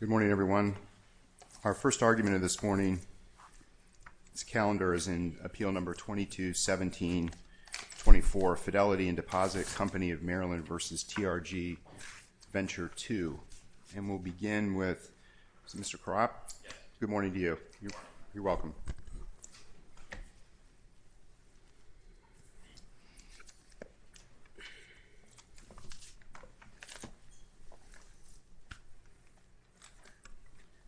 Good morning, everyone. Our first argument of this morning's calendar is in Appeal No. 22-17-24, Fidelity and Deposit Company of Maryland v. TRG Venture Two. And we'll begin with Mr. Korop. Good morning to you. You're welcome.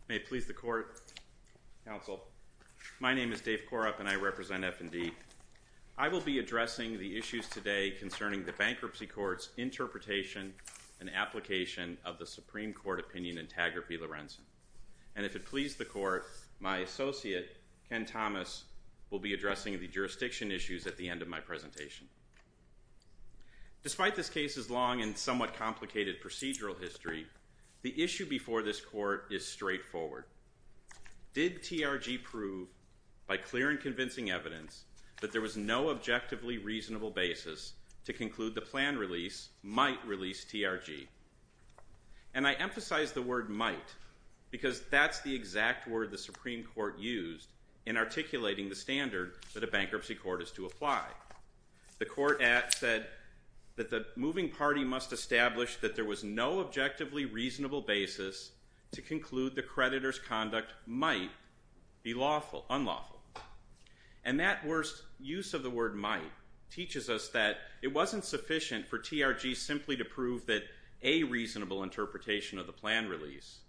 May it please the Court, Counsel. My name is Dave Korop, and I represent F&D. I will be addressing the issues today concerning the bankruptcy court's interpretation and application of the Supreme Court opinion antagraphy, Lorenzen. And if it please the Court, my associate, Ken Thomas, will be addressing the jurisdiction issues at the end of my presentation. Despite this case's long and somewhat complicated procedural history, the issue before this Court is straightforward. Did TRG prove, by clear and convincing evidence, that there was no objectively reasonable basis to conclude the planned release might release TRG? And I emphasize the word might because that's the exact word the Supreme Court used in articulating the standard that a bankruptcy court is to apply. The Court said that the there was no objectively reasonable basis to conclude the creditor's conduct might be unlawful. And that worst use of the word might teaches us that it wasn't sufficient for TRG simply to prove that a reasonable interpretation of the planned release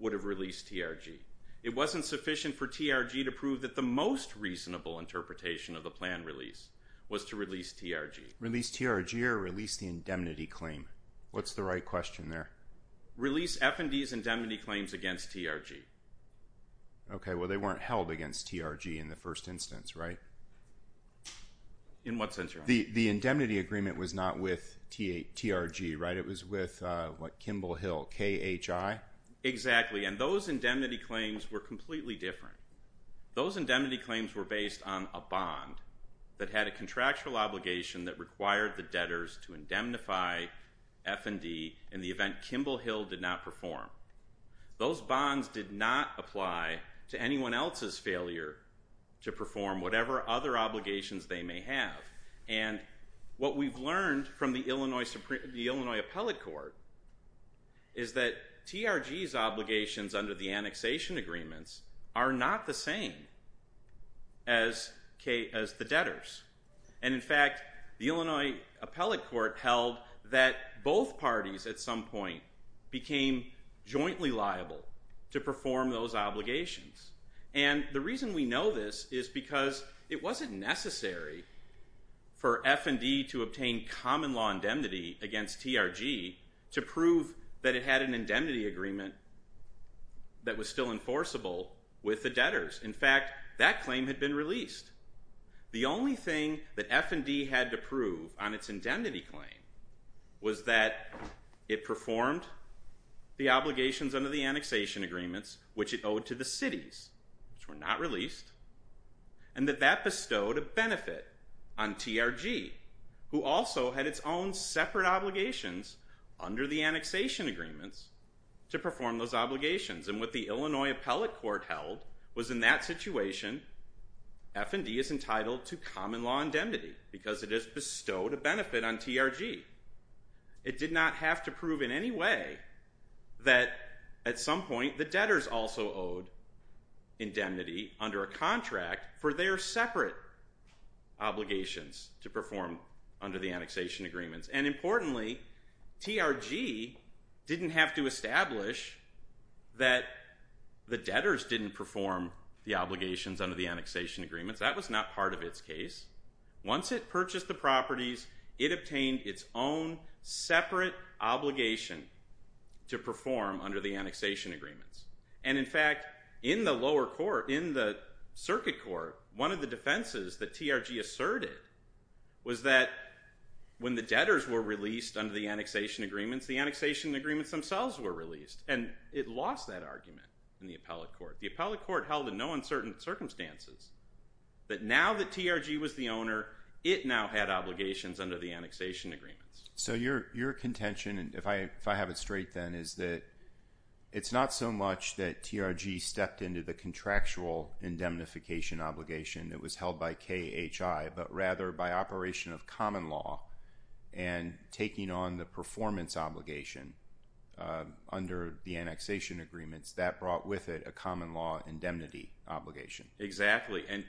would have released TRG. It wasn't sufficient for TRG to prove that the most reasonable interpretation of the planned release was to release TRG. Release TRG or release the indemnity claim? What's the right question there? Release F&D's indemnity claims against TRG. Okay, well they weren't held against TRG in the first instance, right? In what sense, Your Honor? The indemnity agreement was not with TRG, right? It was with, what, Kimball Hill, KHI? Exactly. And those indemnity claims were completely different. Those indemnity claims were based on a bond that had a contractual obligation that required the debtors to indemnify F&D in the event Kimball Hill did not perform. Those bonds did not apply to anyone else's failure to perform whatever other obligations they may have. And what we've learned from the Illinois Appellate Court is that TRG's obligations under the annexation agreements are not the same as the debtors. And in fact, the Illinois Appellate Court held that both parties at some point became jointly liable to perform those obligations. And the reason we know this is because it wasn't necessary for F&D to obtain common law indemnity against TRG to prove that it had an indemnity agreement that was still enforceable with the debtors. In fact, that claim had been released. The only thing that F&D had to prove on its indemnity claim was that it performed the obligations under the annexation agreements, which it owed to the cities, which were not released, and that that bestowed a benefit on TRG, who also had its own separate obligations under the annexation agreements to perform those obligations. And what the Illinois Appellate Court held was in that situation F&D is entitled to common law indemnity because it has bestowed a benefit on TRG. It did not have to prove in any way that at some point the debtors also owed indemnity under a contract for their separate obligations to perform under the annexation agreements. And importantly, TRG didn't have to establish that the debtors didn't perform the obligations under the annexation agreements. That was not part of its case. Once it purchased the properties, it obtained its own separate obligation to perform under the annexation agreements. And in fact, in the lower court, in the circuit court, one of the defenses that TRG asserted was that when the debtors were released under the annexation agreements, the annexation agreements themselves were released. And it lost that argument in the appellate court. The appellate court held in no uncertain circumstances that now that TRG was the owner, it now had obligations under the annexation agreements. So your contention, if I have it straight then, is that it's not so much that TRG stepped into the contractual indemnification obligation that was held by KHI, but rather by operation of common law and taking on the performance obligation under the annexation agreements that brought with it a common law indemnity obligation. Exactly. And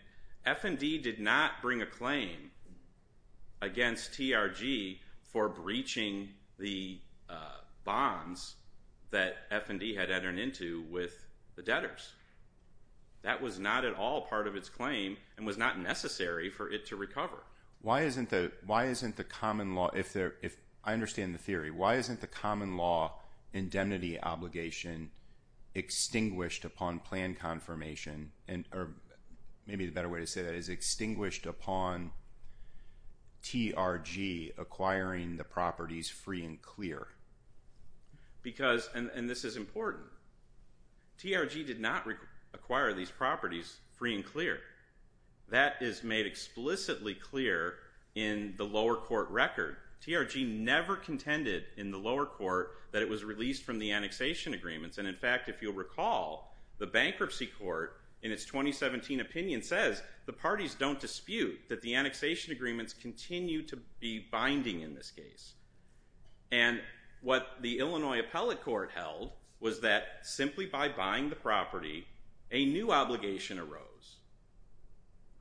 F&D did not bring a claim against TRG for breaching the bonds that F&D had entered into with the debtors. That was not at Why isn't the common law, if I understand the theory, why isn't the common law indemnity obligation extinguished upon plan confirmation, maybe a better way to say that is extinguished upon TRG acquiring the properties free and clear? Because, and this is important, TRG did not acquire these properties free and clear. That is made explicitly clear in the lower court record. TRG never contended in the lower court that it was released from the annexation agreements, and in fact if you'll recall the bankruptcy court in its 2017 opinion says the parties don't dispute that the annexation agreements continue to be binding in this case. And what the Illinois appellate court held was that simply by buying the property, a new obligation arose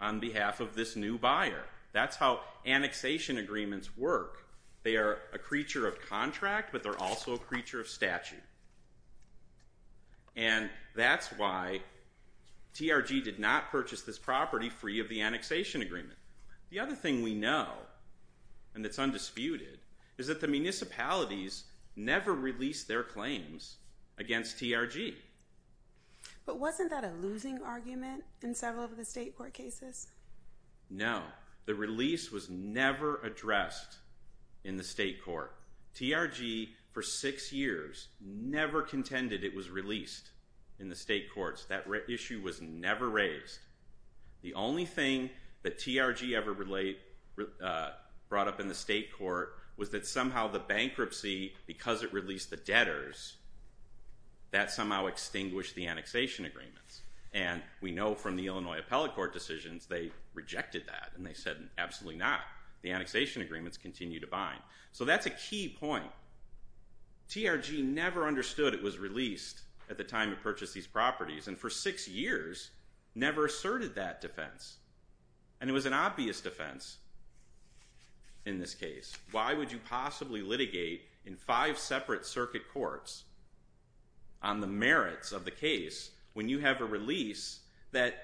on behalf of this new buyer. That's how annexation agreements work. They are a creature of contract, but they're also a creature of statute. And that's why TRG did not purchase this property free of the annexation agreement. The other thing we know, and it's undisputed, is that the municipalities never released their claims against TRG. But wasn't that a losing argument in several of the state court cases? No. The release was never addressed in the state court. TRG for six years never contended it was released in the state courts. That issue was never raised. The only thing that TRG ever brought up in the state court was that somehow the bankruptcy, because it released the debtors, that somehow extinguished the annexation agreements. And we know from the Illinois appellate court decisions they rejected that. And they said, absolutely not. The annexation agreements continue to bind. So that's a key point. TRG never understood it was released at the time it purchased these properties, and for six years never asserted that defense. And it was an obvious defense in this case. Why would you possibly litigate in five separate circuit courts on the merits of the case when you have a release that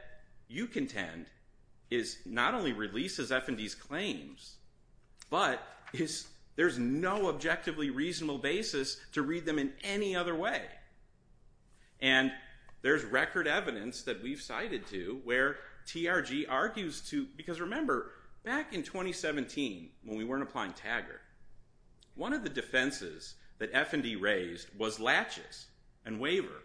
you contend not only releases F&D's claims, but there's no objectively reasonable basis to read them in any other way. And there's record evidence that we've cited to where TRG argues to, because remember, back in 2017 when we weren't applying TAGR, one of the defenses that F&D raised was latches and waiver.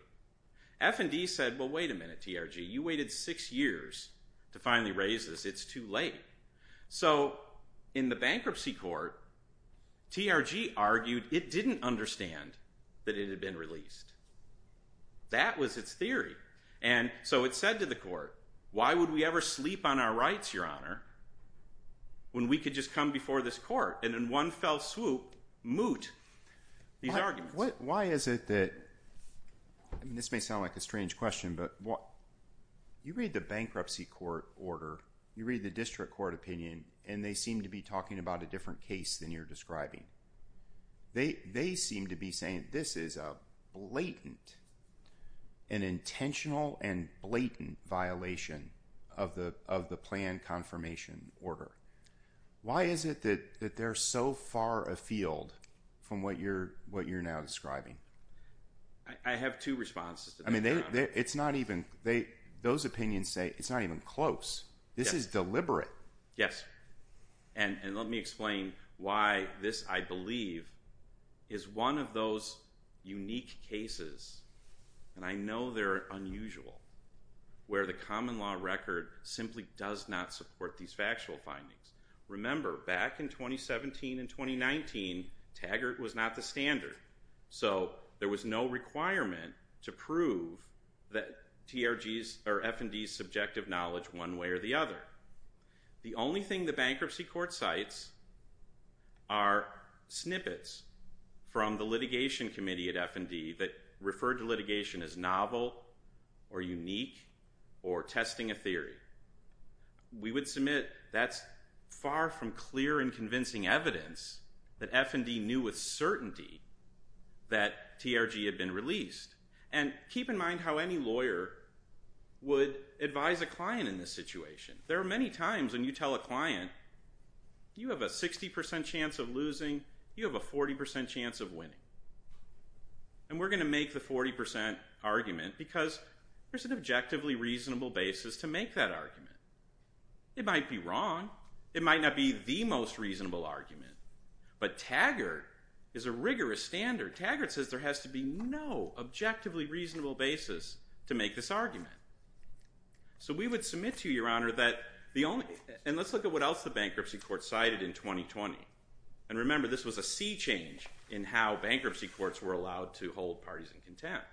F&D said, well, wait a minute TRG. You waited six years to finally raise this. It's too late. So in the bankruptcy court, TRG argued it didn't understand that it had been released. That was its theory. And so it said to the court, why would we ever sleep on our rights, your honor, when we could just come before this court and in one fell swoop moot these arguments? This may sound like a strange question, but you read the bankruptcy court order, you read the district court opinion, and they seem to be talking about a different case than you're describing. They seem to be saying this is a blatant, an intentional and blatant violation of the plan confirmation order. Why is it that they're so far afield from what you're now describing? I have two responses. Those opinions say it's not even close. This is deliberate. Yes. And let me explain why this, I believe, is one of those unique cases, and I know they're unusual, where the common law record simply does not support these factual findings. Remember, back in 2017 and 2019, Taggart was not the standard. So there was no requirement to prove that TRG's or F&D's subjective knowledge one way or the other. The only thing the bankruptcy court cites are snippets from the litigation committee at F&D that referred to litigation as novel or unique or testing a theory. We would submit that's far from clear and convincing evidence that F&D knew with certainty that TRG had been released. And keep in mind how any lawyer would advise a client in this situation. There are many times when you tell a client, you have a 60% chance of losing, you have a 40% chance of winning. And we're going to make the 40% argument because there's an objectively reasonable basis to make that argument. It might be wrong. It might not be the most reasonable argument. But Taggart is a rigorous standard. Taggart says there has to be no objectively reasonable basis to make this argument. So we would submit to you, Your Honor, that the only and let's look at what else the bankruptcy court cited in 2020. And remember, this was a sea change in how bankruptcy courts were allowed to hold parties in contempt.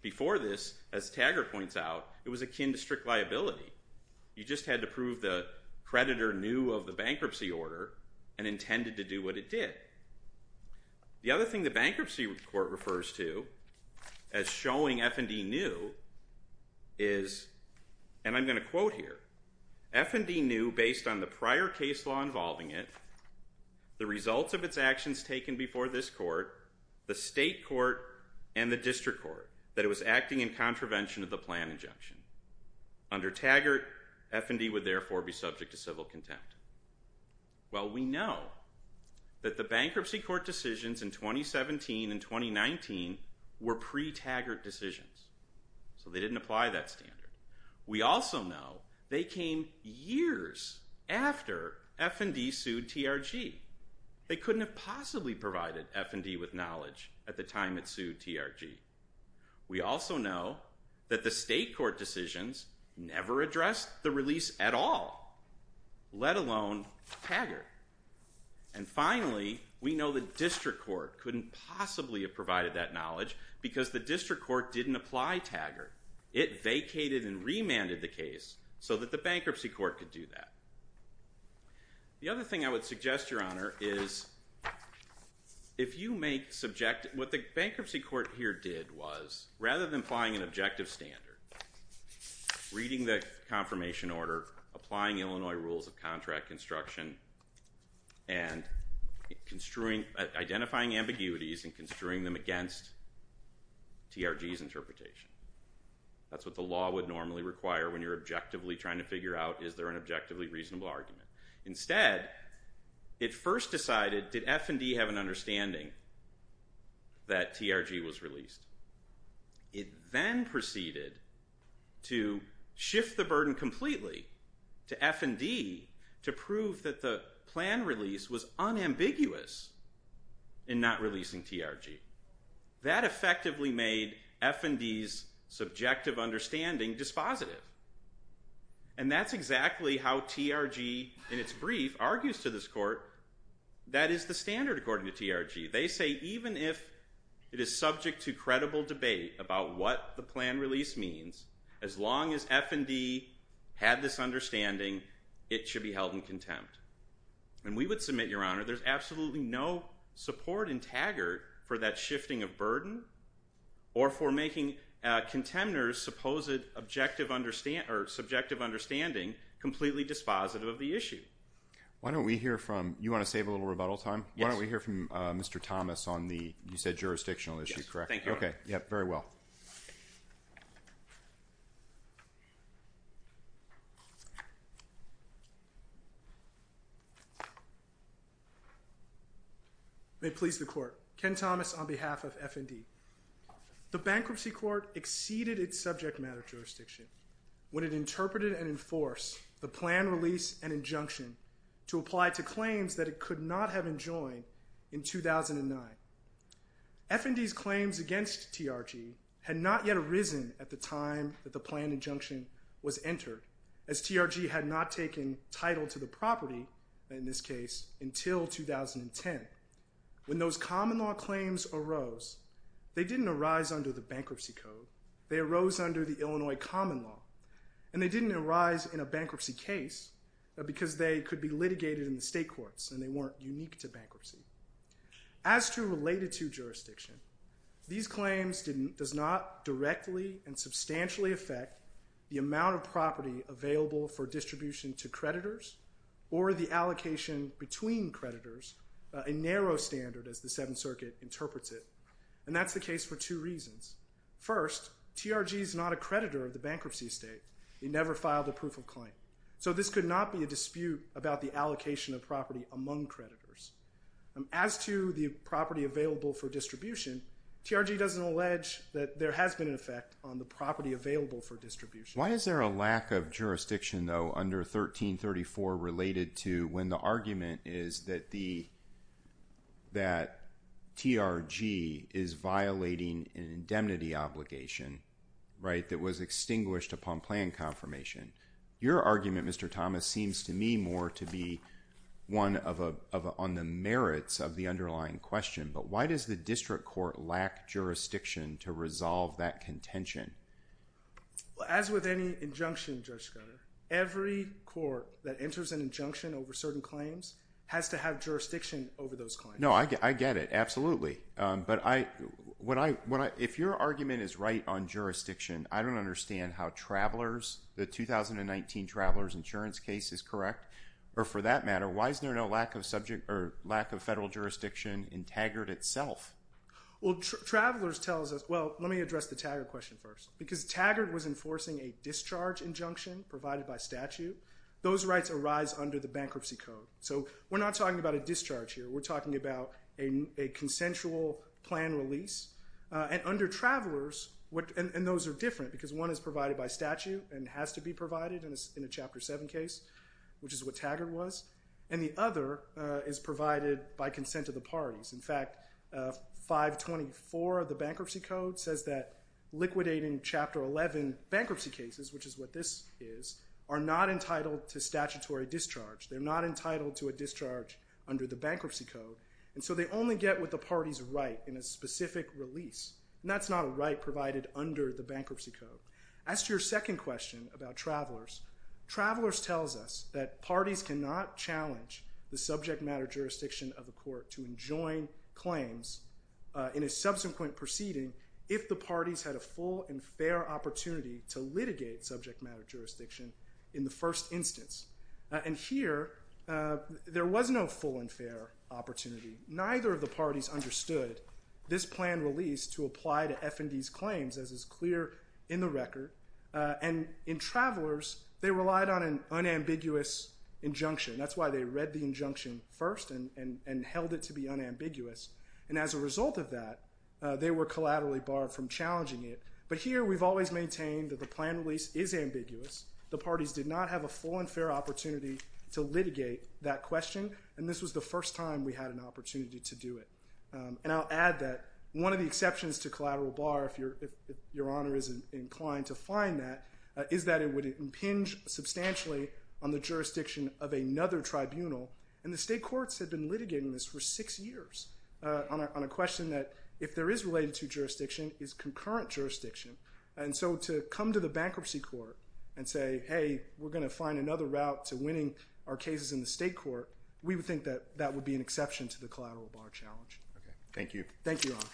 Before this, as Taggart points out, it was akin to strict liability. You just had to prove the creditor knew of the bankruptcy order and intended to do what it did. The other thing the bankruptcy court refers to as showing F&D knew is, and I'm going to quote here, F&D knew based on the prior case law involving it the results of its actions taken before this court, the state court, and the district court, that it was acting in contravention of the plan injunction. Under Taggart, F&D would therefore be subject to civil contempt. Well, we know that the bankruptcy court decisions in 2017 and 2019 were pre-Taggart decisions. So they didn't apply that standard. We also know they came years after F&D sued TRG. They couldn't have possibly provided F&D with knowledge at the time it sued TRG. We also know that the state court decisions never addressed the release at all, let alone Taggart. And finally, we know the district court couldn't possibly have provided that knowledge because the district court didn't apply Taggart. It vacated and remanded the case so that the bankruptcy court could do that. The other thing I would suggest, Your Honor, is if you make subjective, what the bankruptcy court here did was, rather than applying an objective standard, reading the confirmation order, applying Illinois rules of contract construction, and identifying ambiguities and construing them against TRG's interpretation. That's what the bankruptcy court did. It did not objectively try to figure out is there an objectively reasonable argument. Instead, it first decided, did F&D have an understanding that TRG was released? It then proceeded to shift the burden completely to F&D to prove that the plan release was unambiguous in not releasing TRG. That effectively made F&D's subjective understanding dispositive. And that's exactly how TRG, in its brief, argues to this court that is the standard according to TRG. They say even if it is subject to credible debate about what the plan release means, as long as F&D had this understanding, it should be held in contempt. And we would submit, Your Honor, there's absolutely no support in Taggart for that shifting of burden or for making contenders' supposed subjective understanding completely dispositive of the issue. Why don't we hear from, you want to save a little rebuttal time? Why don't we hear from Mr. Thomas on the, you said jurisdictional issue, correct? Thank you, Your Honor. May it please the court. Ken Thomas on behalf of F&D. The bankruptcy court exceeded its subject matter jurisdiction when it interpreted and enforced the plan release and injunction to apply to claims that it could not have enjoined in 2009. F&D's claims against TRG had not yet arisen at the time that the plan injunction was entered, as TRG had not taken title to the property, in this case, until 2010. When those common law claims arose, they didn't arise under the bankruptcy code. They arose under the Illinois common law. And they didn't arise in a bankruptcy case because they could be litigated in the state courts and they weren't unique to bankruptcy. As to related to jurisdiction, these claims does not directly and substantially affect the amount of property available for distribution to creditors or the allocation between creditors, a narrow standard as the Seventh Circuit interprets it. And that's the case for two reasons. First, TRG is not a creditor of the bankruptcy estate. It never filed a proof of claim. So this could not be a dispute about the allocation of property among creditors. As to the property available for distribution, TRG doesn't allege that there has been an effect on the property available for distribution. Why is there a lack of jurisdiction, though, under 1334 related to when the argument is that TRG is violating an indemnity obligation that was extinguished upon plan confirmation? Your argument, Mr. Thomas, seems to me more to be one on the merits of the underlying question. But why does the district court lack jurisdiction to resolve that contention? As with any injunction, Judge Schroeder, every court that enters an injunction over certain claims has to have jurisdiction over those claims. No, I get it. Absolutely. But if your argument is right on jurisdiction, I don't understand how the 2019 Travelers Insurance case is correct. Or for that matter, why is there no lack of federal jurisdiction in Taggart itself? Well, let me address the Taggart question first. Because Taggart was enforcing a discharge injunction provided by statute. Those rights arise under the Bankruptcy Code. So we're not talking about a discharge here. We're talking about a consensual plan release. And under Travelers, and those are different, because one is provided by statute and has to be provided in a Chapter 7 case, which is what Taggart was. And the other is provided by consent of the parties. In fact, 524 of the Bankruptcy Code says that certain bankruptcy cases, which is what this is, are not entitled to statutory discharge. They're not entitled to a discharge under the Bankruptcy Code. And so they only get what the parties write in a specific release. And that's not a right provided under the Bankruptcy Code. As to your second question about Travelers, Travelers tells us that parties cannot challenge the subject matter jurisdiction of a court to enjoin claims in a subsequent proceeding if the parties had a full and fair opportunity to litigate subject matter jurisdiction in the first instance. And here, there was no full and fair opportunity. Neither of the parties understood this plan release to apply to F&D's claims, as is clear in the record. And in Travelers, they relied on an unambiguous injunction. That's why they read the injunction first and held it to be unambiguous. And as a result of that, they were collaterally barred from challenging it. But here, we've always maintained that the plan release is ambiguous. The parties did not have a full and fair opportunity to litigate that question. And this was the first time we had an opportunity to do it. And I'll add that one of the exceptions to collateral bar, if Your Honor is inclined to find that, is that it would impinge substantially on the jurisdiction of another tribunal. And the state courts have been litigating this for six years on a question that, if there is related to jurisdiction, is concurrent jurisdiction. And so to come to the bankruptcy court and say, hey, we're going to find another route to winning our cases in the state court, we would think that that would be an exception to the collateral bar challenge. Thank you. Thank you, Your Honor.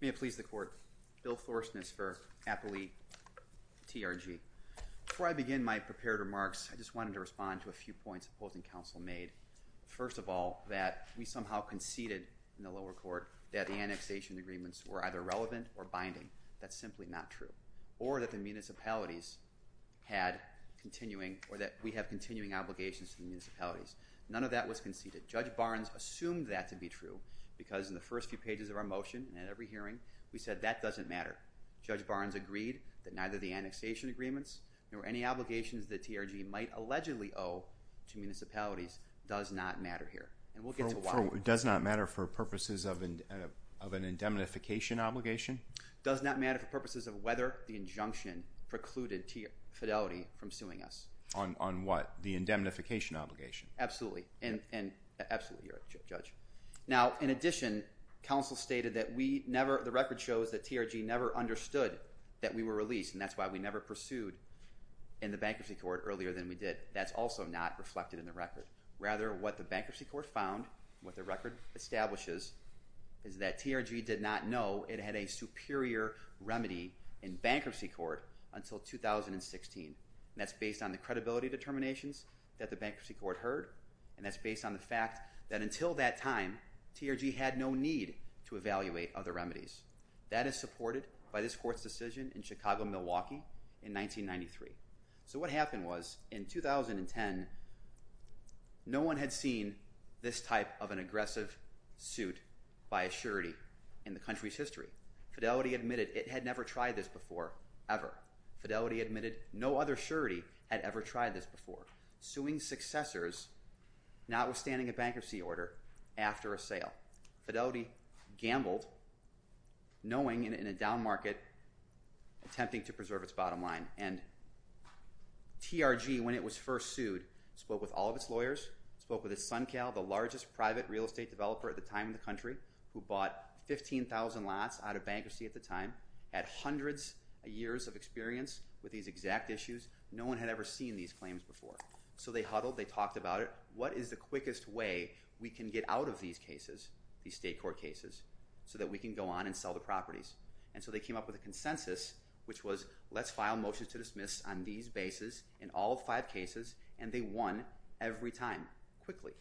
May it please the Court. Bill Floresness for Appellee TRG. Before I begin my prepared remarks, I just wanted to respond to a few points the opposing counsel made. First of all, that we somehow conceded in the lower court that the annexation agreements were either relevant or binding. That's simply not true. Or that the municipalities had continuing, or that we have continuing obligations to the municipalities. None of that was conceded. Judge Barnes assumed that to be true, because in the first few pages of our motion, and at every hearing, we said that doesn't matter. Judge Barnes agreed that neither the annexation agreements nor any obligations that TRG might allegedly owe to municipalities does not matter here. And we'll get to why. Does not matter for purposes of an indemnification obligation? Does not matter for purposes of whether the injunction precluded fidelity from suing us. On what? The indemnification obligation. Absolutely. Now, in addition, counsel stated that we never, the record shows that TRG never understood that we were released, and that's why we never pursued in the bankruptcy court earlier than we did. That's also not reflected in the record. Rather, what the bankruptcy court found, what the record establishes is that TRG did not know it had a superior remedy in bankruptcy court until 2016. And that's based on the credibility determinations that the bankruptcy court heard, and that's based on the fact that until that time, TRG had no need to evaluate other remedies. That is supported by this court's decision in Chicago, Milwaukee in 1993. So what happened was, in 2010, no one had seen this type of an aggressive suit by a surety in the country's history. Fidelity admitted it had never tried this before ever. Fidelity admitted no other surety had ever tried this before. Suing successors, notwithstanding a bankruptcy order, after a sale. Fidelity gambled knowing, in a down market, attempting to preserve its bottom line. And TRG, when it was first sued, spoke with all of its lawyers, spoke with its SunCal, the largest private real estate developer at the time in the country, who bought 15,000 lots out of bankruptcy at the time at hundreds of years of experience with these exact issues. No one had ever seen these claims before. So they huddled, they talked about it. What is the quickest way we can get out of these cases, these state court cases, so that we can go on and sell the properties? And so they came up with a consensus which was, let's file motions to dismiss on these bases in all five cases, and they won every time, quickly.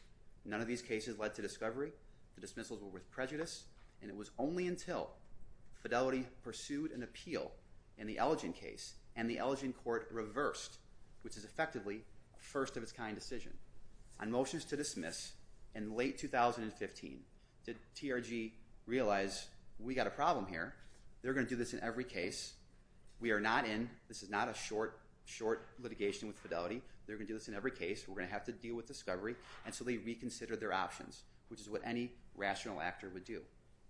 None of these cases led to discovery. The dismissals were worth prejudice. And it was only until Fidelity pursued an appeal in the Elgin case and the Elgin court reversed, which is effectively a first of its kind decision, on motions to dismiss in late 2015 did TRG realize, we've got a problem here. They're going to do this in every case. We are not in. This is not a short litigation with Fidelity. They're going to do this in every case. We're going to have to deal with discovery. And so they reconsidered their options, which is what any rational actor would do.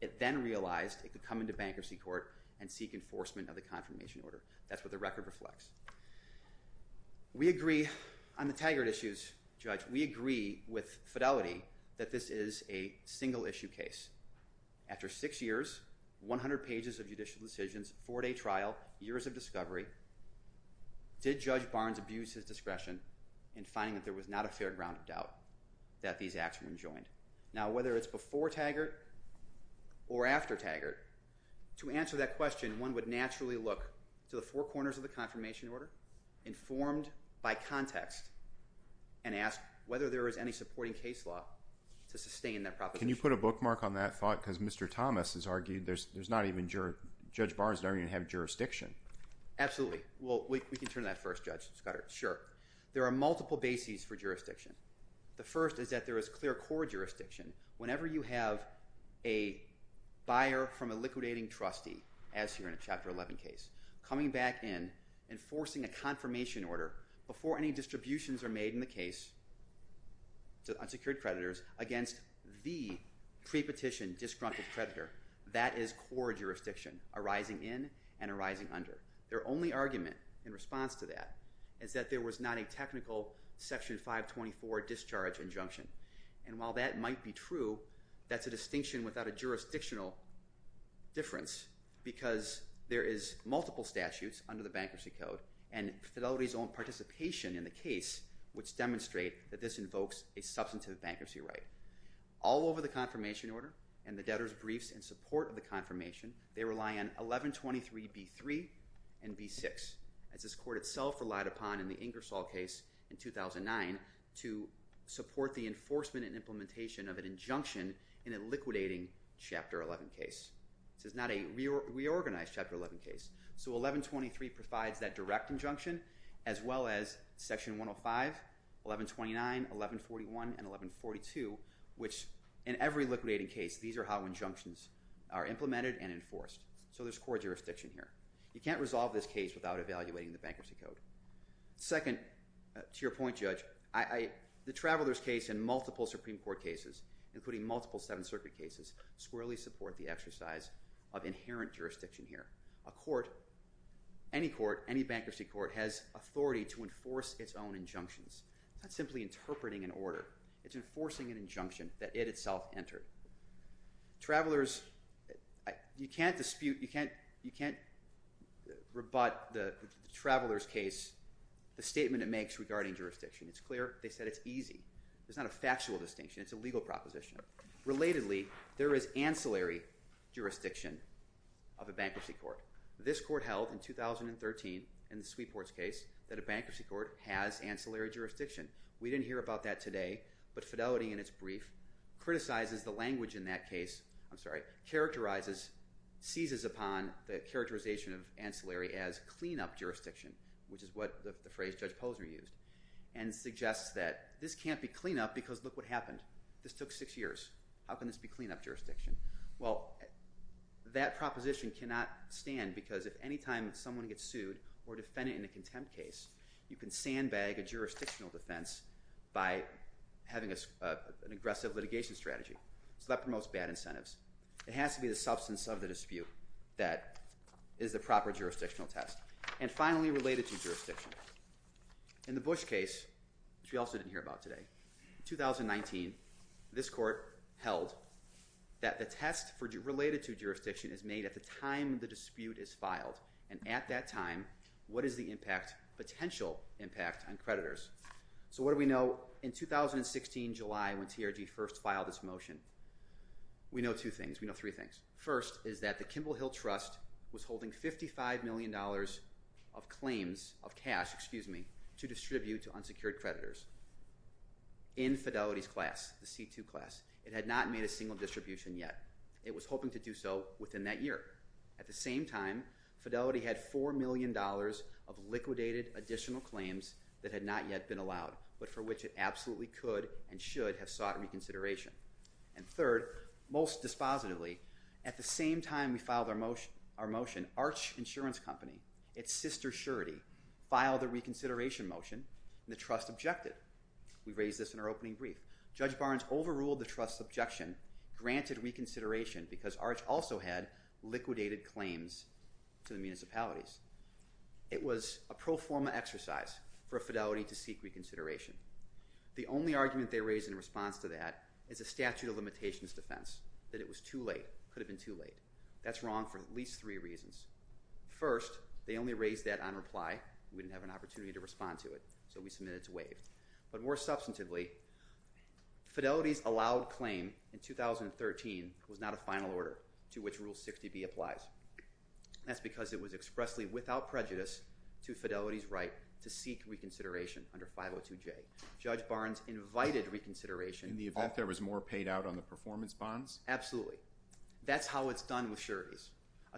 It then realized it could come into bankruptcy court and seek enforcement of the confirmation order. That's what the record reflects. We agree on the Taggart issues, Judge. We agree with Fidelity that this is a single issue case. After six years, 100 pages of judicial decisions, four day trial, years of discovery, did Judge Barnes abuse his discretion in finding that there was not a fair ground of doubt that these acts were enjoined? Now, whether it's before Taggart or after Taggart, to answer that question, one would naturally look to the four corners of the confirmation order, informed by context, and ask whether there is any supporting case law to sustain that proposition. Can you put a bookmark on that thought? Because Mr. Thomas has argued there's not even Judge Barnes doesn't even have jurisdiction. Absolutely. Well, we can turn that first, Judge Scudder. Sure. There are multiple bases for jurisdiction. The first is that there is clear core jurisdiction. Whenever you have a buyer from a liquidating trustee, as here in a Chapter 11 case, coming back in, enforcing a confirmation order before any distributions are made in the case to unsecured creditors against the pre-petition disgruntled creditor, that is core jurisdiction arising in and arising under. Their only argument in response to that is that there was not a core discharge injunction. And while that might be true, that's a distinction without a jurisdictional difference because there is multiple statutes under the Bankruptcy Code and participation in the case which demonstrate that this invokes a substantive bankruptcy right. All over the confirmation order and the debtors briefs in support of the confirmation, they rely on 1123B3 and B6, as this court itself relied upon in the Ingersoll case in 2009 to support the enforcement and implementation of an injunction in a liquidating Chapter 11 case. This is not a reorganized Chapter 11 case. So 1123 provides that direct injunction as well as Section 105, 1129, 1141, and 1142, which in every liquidating case, these are how injunctions are implemented and enforced. So there's core jurisdiction here. You can't resolve this case without evaluating the Bankruptcy Code. Second, to your point, Judge, the Travelers case and multiple Supreme Court cases, including multiple Seventh Circuit cases, squarely support the exercise of inherent jurisdiction here. A court, any court, any bankruptcy court, has authority to enforce its own injunctions, not simply interpreting an order. It's enforcing an injunction that it itself entered. Travelers, you can't dispute, you can't rebut the Travelers case, the statement it makes regarding jurisdiction. It's clear. They said it's easy. It's not a factual distinction. It's a legal proposition. Relatedly, there is ancillary jurisdiction of a bankruptcy court. This court held in 2013 in the Sweep Horse case that a bankruptcy court has ancillary jurisdiction. We didn't hear about that today, but Fidelity in its brief criticizes the language in that case, I'm sorry, characterizes, seizes upon the characterization of ancillary as clean-up jurisdiction, which is what the phrase Judge Posner used, and suggests that this can't be clean-up because look what happened. This took six years. How can this be clean-up jurisdiction? Well, that proposition cannot stand because if any time someone gets sued or defended in a contempt case, you can sandbag a jurisdictional defense by having an aggressive litigation strategy. So that promotes bad incentives. It has to be the substance of the dispute that is the proper jurisdictional test. And finally, related to jurisdiction. In the Bush case, which we also didn't hear about today, in 2019, this court held that the test related to jurisdiction is made at the time the dispute is filed, and at that time, what is the potential impact on creditors? So what do we know in 2016 July when TRD first filed this motion? We know two things. We know three things. First is that the Kimball Hill Trust was holding $55 million of claims of cash to distribute to unsecured creditors in Fidelity's class, the C2 class. It had not made a single distribution yet. It was hoping to do so within that year. At the same time, Fidelity had $4 million of liquidated additional claims that had not yet been allowed, but for which it absolutely could and should have sought reconsideration. And third, most dispositively, at the same time we filed our motion, Arch Insurance Company, its sister surety, filed a reconsideration motion, and the trust objected. We raised this in our opening brief. Judge Barnes overruled the trust's objection, granted reconsideration, because Arch also had liquidated claims to the municipalities. It was a pro forma exercise for Fidelity to seek reconsideration. The only argument they raised in response to that is a statute of limitations defense, that it was too late, could have been too late. That's wrong for at least three reasons. First, they only raised that on reply. We didn't have an opportunity to respond to it, so we submitted to waive. But more substantively, Fidelity's allowed claim in 2013 was not a final order to which Rule 60B applies. That's because it was expressly without prejudice to Fidelity's right to seek reconsideration under 502J. Judge Barnes invited reconsideration. In the event there was more paid out on the performance bonds? Absolutely. That's how it's done with sureties.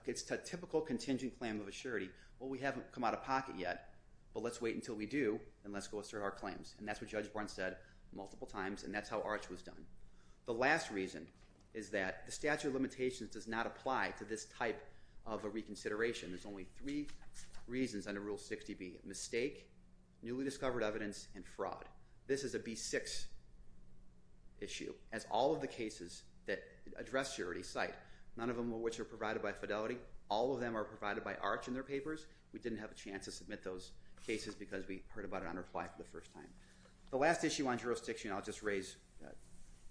It's a typical contingent claim of a surety. Well, we haven't come out of pocket yet, but let's wait until we do, and let's go assert our claims. And that's what Judge Barnes said multiple times, and that's how Arch was done. The last reason is that the statute of limitations does not apply to this type of a reconsideration. There's only three reasons under Rule 60B. Mistake, newly discovered evidence, and fraud. This is a B6 issue, as all of the cases that address surety cite, none of them of which are provided by Fidelity. All of them are provided by Arch in their papers. We didn't have a chance to submit those cases because we heard about it on reply for the first time. The last issue on jurisdiction I'll just raise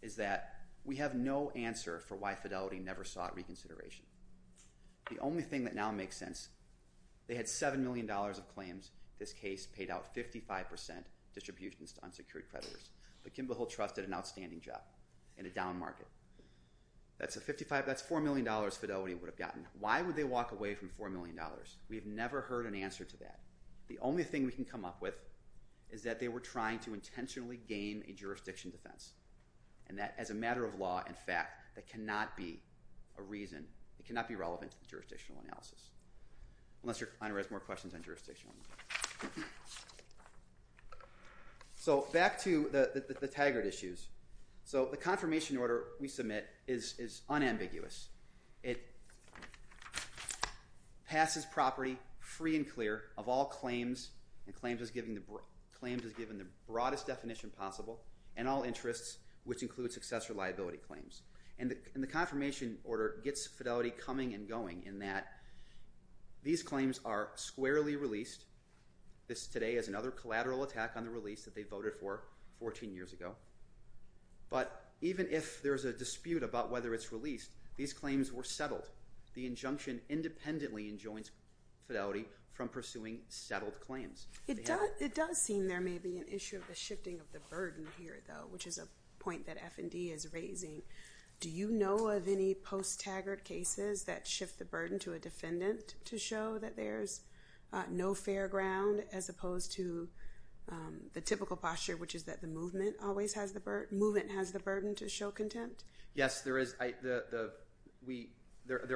is that we have no answer for why Fidelity never sought reconsideration. The only thing that now makes sense, they had $7 million of claims. This case paid out 55% distributions to unsecured creditors. But Kimble Hill trusted an outstanding job in a down market. That's $4 million Fidelity would have gotten. Why would they walk away from $4 million? We have never heard an answer to that. The only thing we can come up with is that they were trying to intentionally gain a jurisdiction defense. And that as a matter of law, in fact, that cannot be a reason, it cannot be relevant to jurisdictional analysis. Unless your client has more questions on jurisdictional analysis. Back to the Taggart issues. The confirmation order we submit is unambiguous. It passes property free and clear of all claims and claims as given the broadest definition possible and all interests which include success or liability claims. And the confirmation order gets Fidelity coming and going in that these claims are squarely released. This today is another collateral attack on the release that they voted for 14 years ago. But even if there's a dispute about whether it's released, these claims were settled. The injunction independently enjoins Fidelity from pursuing settled claims. It does seem there may be an issue of the shifting of the burden here though, which is a question that the attorney general is raising. Do you know of any post-Taggart cases that shift the burden to a defendant to show that there's no fair ground as opposed to the typical posture which is that the movement has the burden to show contempt? Yes, there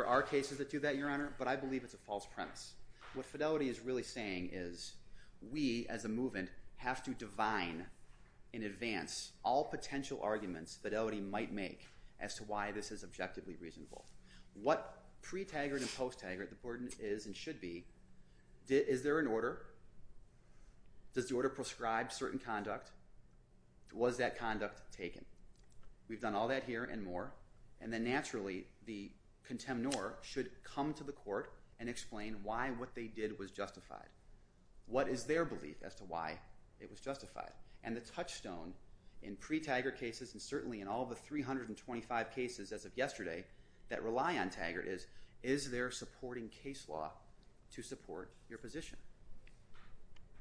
are cases that do that, Your Honor, but I believe it's a false premise. What Fidelity is really saying is we, as a movement, have to divine in advance all potential arguments that Fidelity might make as to why this is objectively reasonable. What pre-Taggart and post-Taggart the burden is and should be, is there an order? Does the order prescribe certain conduct? Was that conduct taken? We've done all that here and more, and then naturally the contemnor should come to the court and explain why what they did and the touchstone in pre-Taggart cases and certainly in all of the 325 cases as of yesterday that rely on Taggart is is there a supporting case law to support your position?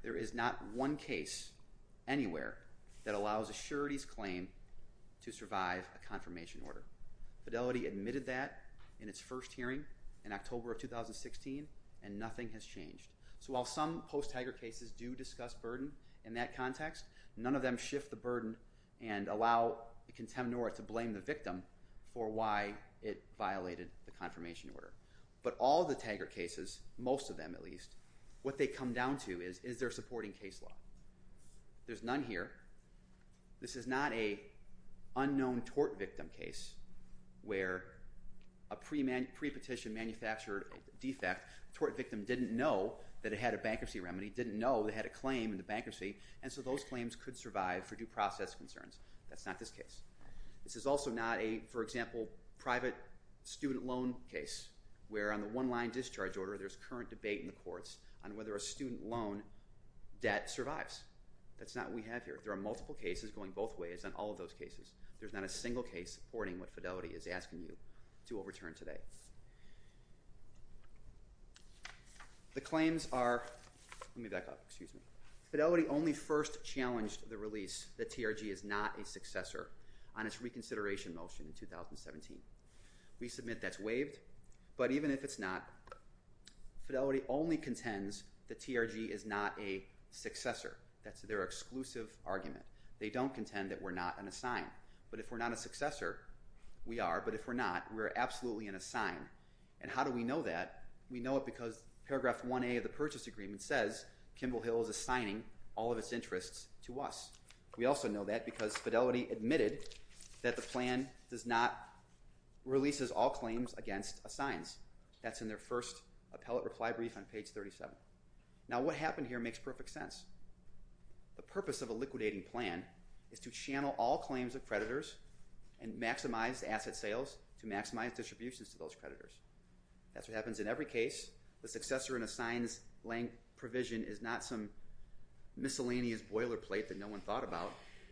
There is not one case anywhere that allows a surety's claim to survive a confirmation order. Fidelity admitted that in its first hearing in October of 2016 and nothing has changed. So while some post-Taggart cases do discuss burden in that context, none of them shift the burden and allow the contemnor to blame the victim for why it violated the confirmation order. But all the Taggart cases, most of them at least, what they come down to is is there a supporting case law? There's none here. This is not a unknown tort victim case where a pre-petition manufactured defect, the tort victim didn't know that it had a bankruptcy remedy, didn't know it had a claim in the bankruptcy, and so those claims could survive for due process concerns. That's not this case. This is also not a, for example, private student loan case where on the one-line discharge order there's current debate in the courts on whether a student loan debt survives. That's not what we have here. There are multiple cases going both ways on all of those cases. There's not a single case supporting what Fidelity is asking you to overturn today. The claims are, let me back up, excuse me, Fidelity only first challenged the release that TRG is not a successor on its reconsideration motion in 2017. We submit that's waived, but even if it's not, Fidelity only contends that TRG is not a successor. That's their exclusive argument. They don't contend that we're not an assigned. But if we're not a successor, we are, but if we're not, we're absolutely an assigned. And how do we know that? We know it because paragraph 1A of the purchase agreement says Kimball Hill is assigning all of its interests to us. We also know that because Fidelity admitted that the plan does not, releases all claims against assigns. That's in their first appellate reply brief on page 37. Now what happened here makes perfect sense. The purpose of a liquidating plan is to channel all claims of creditors and maximize asset sales to maximize distributions to those creditors. That's what happens in every case. The successor and assigns blank provision is not some miscellaneous boilerplate that no one thought about.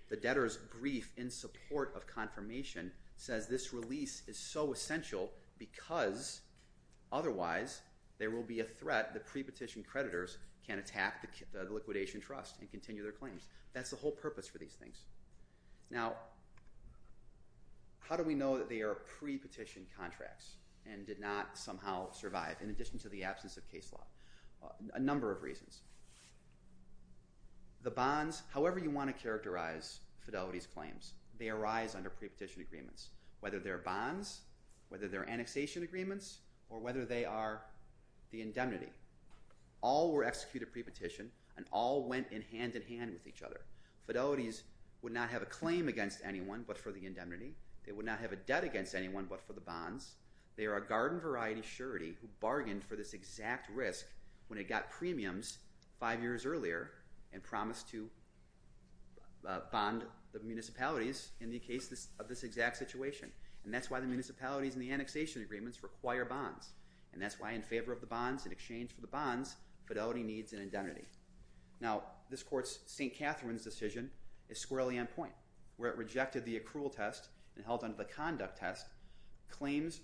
The debtor's brief in support of confirmation says this release is so essential because otherwise there will be a threat that pre-petition creditors can attack the liquidation trust and continue their claims. That's the whole purpose for these things. Now, how do we know that they are pre-petition contracts and did not somehow survive in addition to the absence of case law? A number of reasons. The bonds, however you want to characterize Fidelity's claims, they arise under pre-petition agreements. Whether they're bonds, whether they're annexation agreements, or whether they are the indemnity. All were executed pre-petition and all went in hand-in-hand with each other. Fidelity's would not have a claim against anyone but for the indemnity. They would not have a debt against anyone but for the bonds. They are a garden variety surety who bargained for this exact risk when it got premiums five years earlier and promised to bond the municipalities in the case of this exact situation. And that's why the municipalities and the annexation agreements require bonds. And that's why in favor of the bonds, in exchange for the bonds, Fidelity needs an indemnity. Now this court's St. Catherine's decision is squarely on point. Where it rejected the accrual test and held on to the conduct test, claims,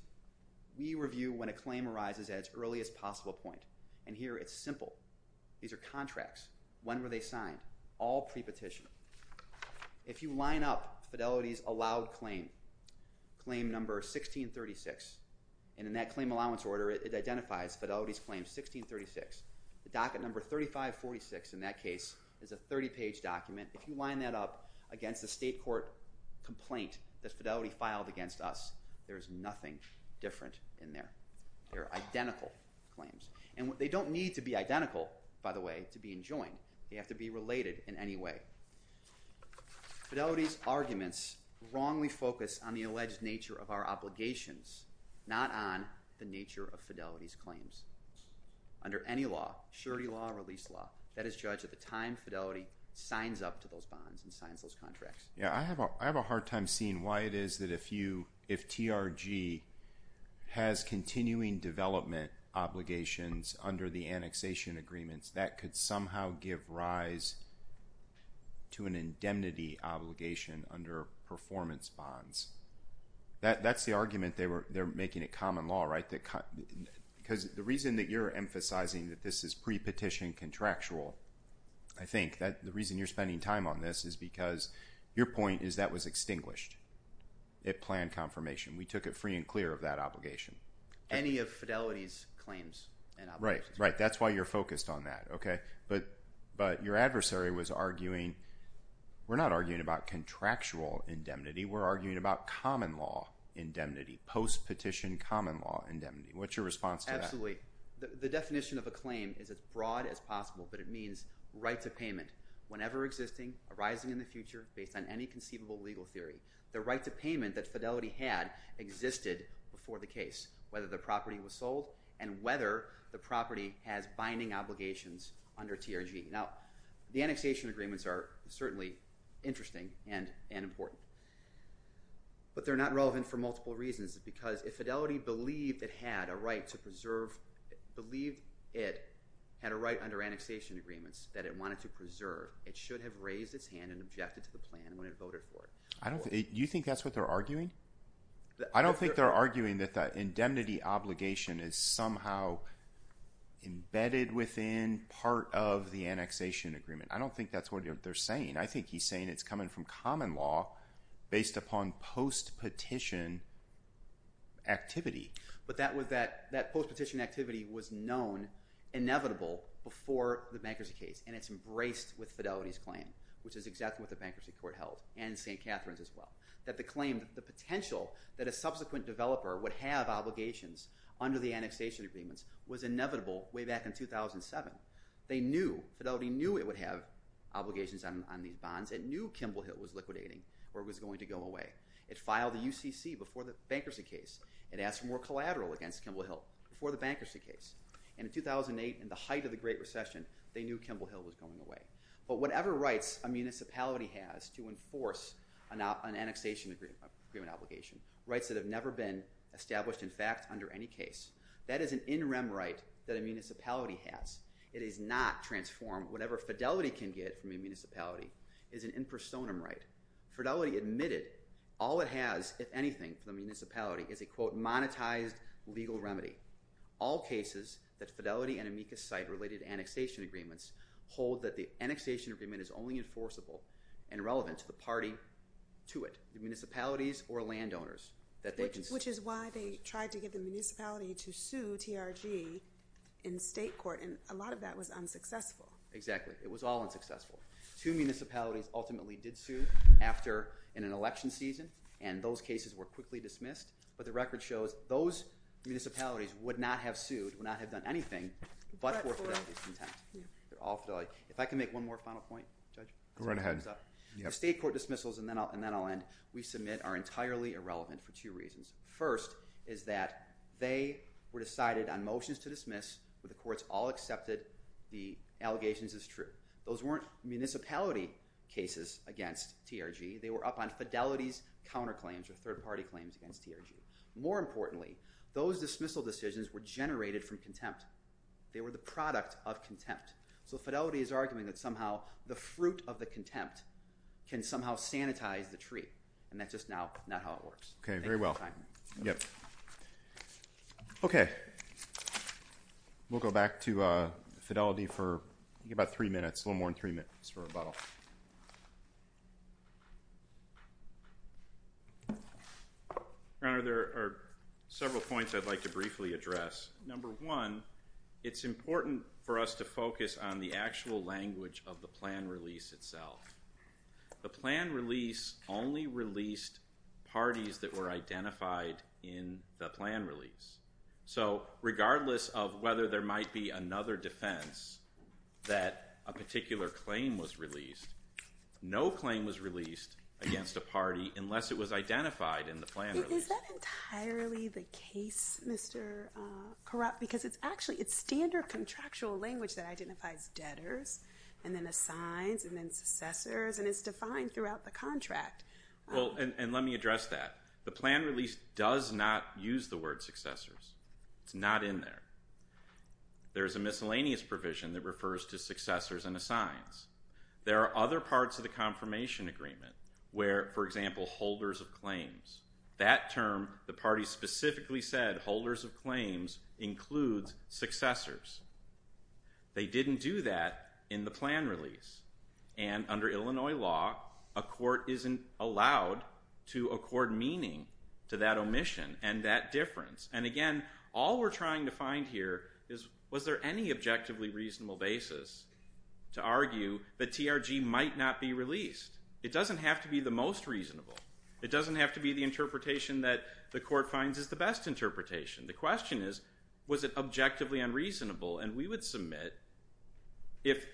we review when a claim arises at its earliest possible point. And here it's simple. These are contracts. When were they signed? All pre-petition. If you line up Fidelity's allowed claim, claim number 1636, and in that claim allowance order it identifies Fidelity's claim 1636. The docket number 3546 in that case is a 30 page document. If you line that up against the state court complaint that Fidelity filed against us, there's nothing different in there. They're identical claims. And they don't need to be identical, by the way, to be enjoined. They have to be related in any way. Fidelity's arguments wrongly focus on the alleged nature of our obligations, not on the nature of Fidelity's law. Surety law or release law. That is judged at the time Fidelity signs up to those bonds and signs those contracts. I have a hard time seeing why it is that if TRG has continuing development obligations under the annexation agreements that could somehow give rise to an indemnity obligation under performance bonds. That's the argument they're making at common law, right? The reason that you're emphasizing that this is pre-petition contractual, I think, the reason you're spending time on this is because your point is that was extinguished at plan confirmation. We took it free and clear of that obligation. Any of Fidelity's claims and obligations. Right. That's why you're focused on that. Your adversary was arguing, we're not arguing about contractual indemnity. We're arguing about common law indemnity. Post-petition common law indemnity. What's your response to that? The definition of a claim is as broad as possible, but it means right to payment whenever existing, arising in the future, based on any conceivable legal theory. The right to payment that Fidelity had existed before the case. Whether the property was sold and whether the property has binding obligations under TRG. The annexation agreements are certainly interesting and important. But they're not relevant for multiple reasons. Because if Fidelity believed it had a right to preserve, believed it had a right under annexation agreements that it wanted to preserve, it should have raised its hand and objected to the plan when it voted for it. Do you think that's what they're arguing? I don't think they're arguing that the indemnity obligation is somehow embedded within part of the annexation agreement. I don't think that's what they're saying. I think he's saying it's coming from common law based upon post-petition activity. But that post-petition activity was known inevitable before the bankruptcy case. And it's embraced with Fidelity's claim. Which is exactly what the bankruptcy court held. And St. Catharines as well. That the claim, the potential that a subsequent developer would have obligations under the annexation agreements was inevitable way back in 2007. They knew, Fidelity knew it would have liquidation on these bonds. It knew Kimball Hill was liquidating or was going to go away. It filed the UCC before the bankruptcy case. It asked for more collateral against Kimball Hill before the bankruptcy case. And in 2008, in the height of the Great Recession, they knew Kimball Hill was going away. But whatever rights a municipality has to enforce an annexation agreement obligation, rights that have never been established in fact under any case, that is an in rem right that a municipality has. It is not transform whatever Fidelity can get from a municipality is an in personam right. Fidelity admitted all it has, if anything, for the municipality is a quote, monetized legal remedy. All cases that Fidelity and Amicus cite related to annexation agreements hold that the annexation agreement is only enforceable and relevant to the party to it. The municipalities or landowners. Which is why they tried to get the municipality to sue TRG in state court. And a lot of that was unsuccessful. Exactly. It was all unsuccessful. Two municipalities ultimately did sue after in an election season. And those cases were quickly dismissed. But the record shows those municipalities would not have sued, would not have done anything, but for Fidelity's intent. If I can make one more final point. Go right ahead. State court dismissals, and then I'll end, we submit are entirely irrelevant for two reasons. First, is that they were decided on motions to dismiss where the courts all accepted the allegations as true. Those weren't municipality cases against TRG. They were up on Fidelity's counterclaims or third party claims against TRG. More importantly, those dismissal decisions were generated from contempt. They were the product of contempt. So Fidelity is arguing that somehow the fruit of the contempt can somehow sanitize the tree. And that's just now not how it works. Okay. Very well. Okay. We'll go back to Fidelity for about three minutes. A little more than three minutes for rebuttal. Your Honor, there are several points I'd like to briefly address. Number one, it's important for us to focus on the actual language of the plan release itself. The plan release only released parties that were identified in the plan release. So regardless of whether there might be another defense that a particular claim was released, no claim was released against a party unless it was identified in the plan release. Is that entirely the case, Mr. Korot? Because it's actually, it's standard contractual language that identifies debtors and then assigns and then successors and it's defined throughout the contract. Well, and let me address that. The plan release does not use the word successors. It's not in there. There's a miscellaneous provision that refers to successors and assigns. There are other parts of the confirmation agreement where, for example, holders of claims. That term, the party specifically said holders of claims includes successors. They didn't do that in the plan release. And under Illinois law, a court isn't allowed to accord meaning to that omission and that difference. And again, all we're trying to find here is was there any objectively reasonable basis to argue that TRG might not be released? It doesn't have to be the most reasonable. It doesn't have to be the interpretation that the court finds is the best interpretation. The question is was it objectively unreasonable? And we would submit if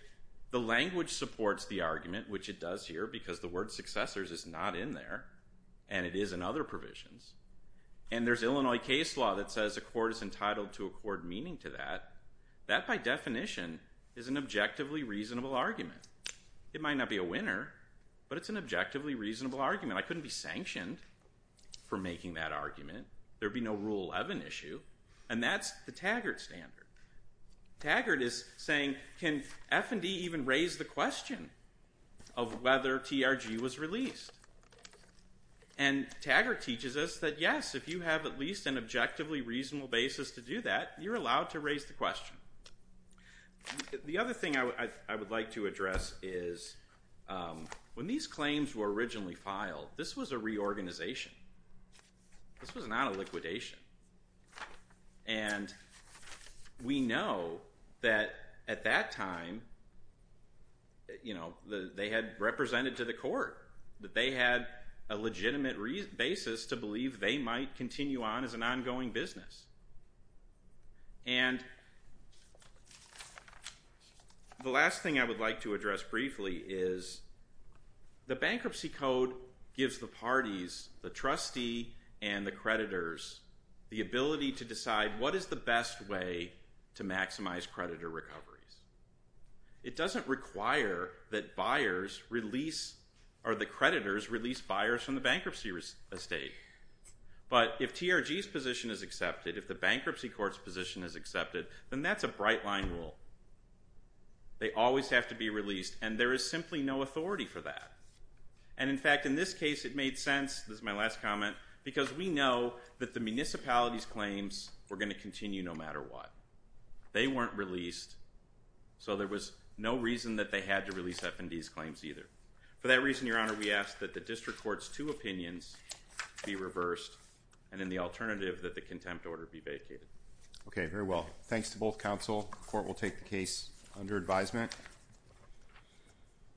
the language supports the argument, which it does here because the word successors is not in there and it is in other provisions. And there's Illinois case law that says a court is entitled to accord meaning to that. That, by definition, is an objectively reasonable argument. It might not be a winner, but it's an objectively reasonable argument. I couldn't be sanctioned for making that argument. There'd be no Rule 11 issue. And that's the Taggart standard. Taggart is saying can F&E even raise the question of whether TRG was released? And Taggart teaches us that yes, if you have at least an objectively reasonable basis to do that, you're allowed to raise the question. The other thing I would like to address is when these claims were originally filed, this was a reorganization. This was not a liquidation. And we know that at that time, you know, they had represented to the court that they had a legitimate basis to believe they might continue on as an ongoing business. And the last thing I would like to address briefly is the bankruptcy code gives the parties, the trustee and the creditors, the ability to decide what is the best way to maximize creditor recoveries. It doesn't require that the creditors release buyers from the bankruptcy estate. But if TRG's position is accepted, if the bankruptcy court's position is accepted, then that's a bright line rule. They always have to be released. And there is simply no authority for that. And in fact, in this case, it made sense, this is my last comment, because we know that the municipality's claims were going to continue no matter what. They weren't released. So there was no reason that they had to release FND's claims either. For that reason, Your Honor, we ask that the district court's two opinions be reversed and in the alternative that the contempt order be vacated. Okay, very well. Thanks to both counsel. The court will take the case under advisement.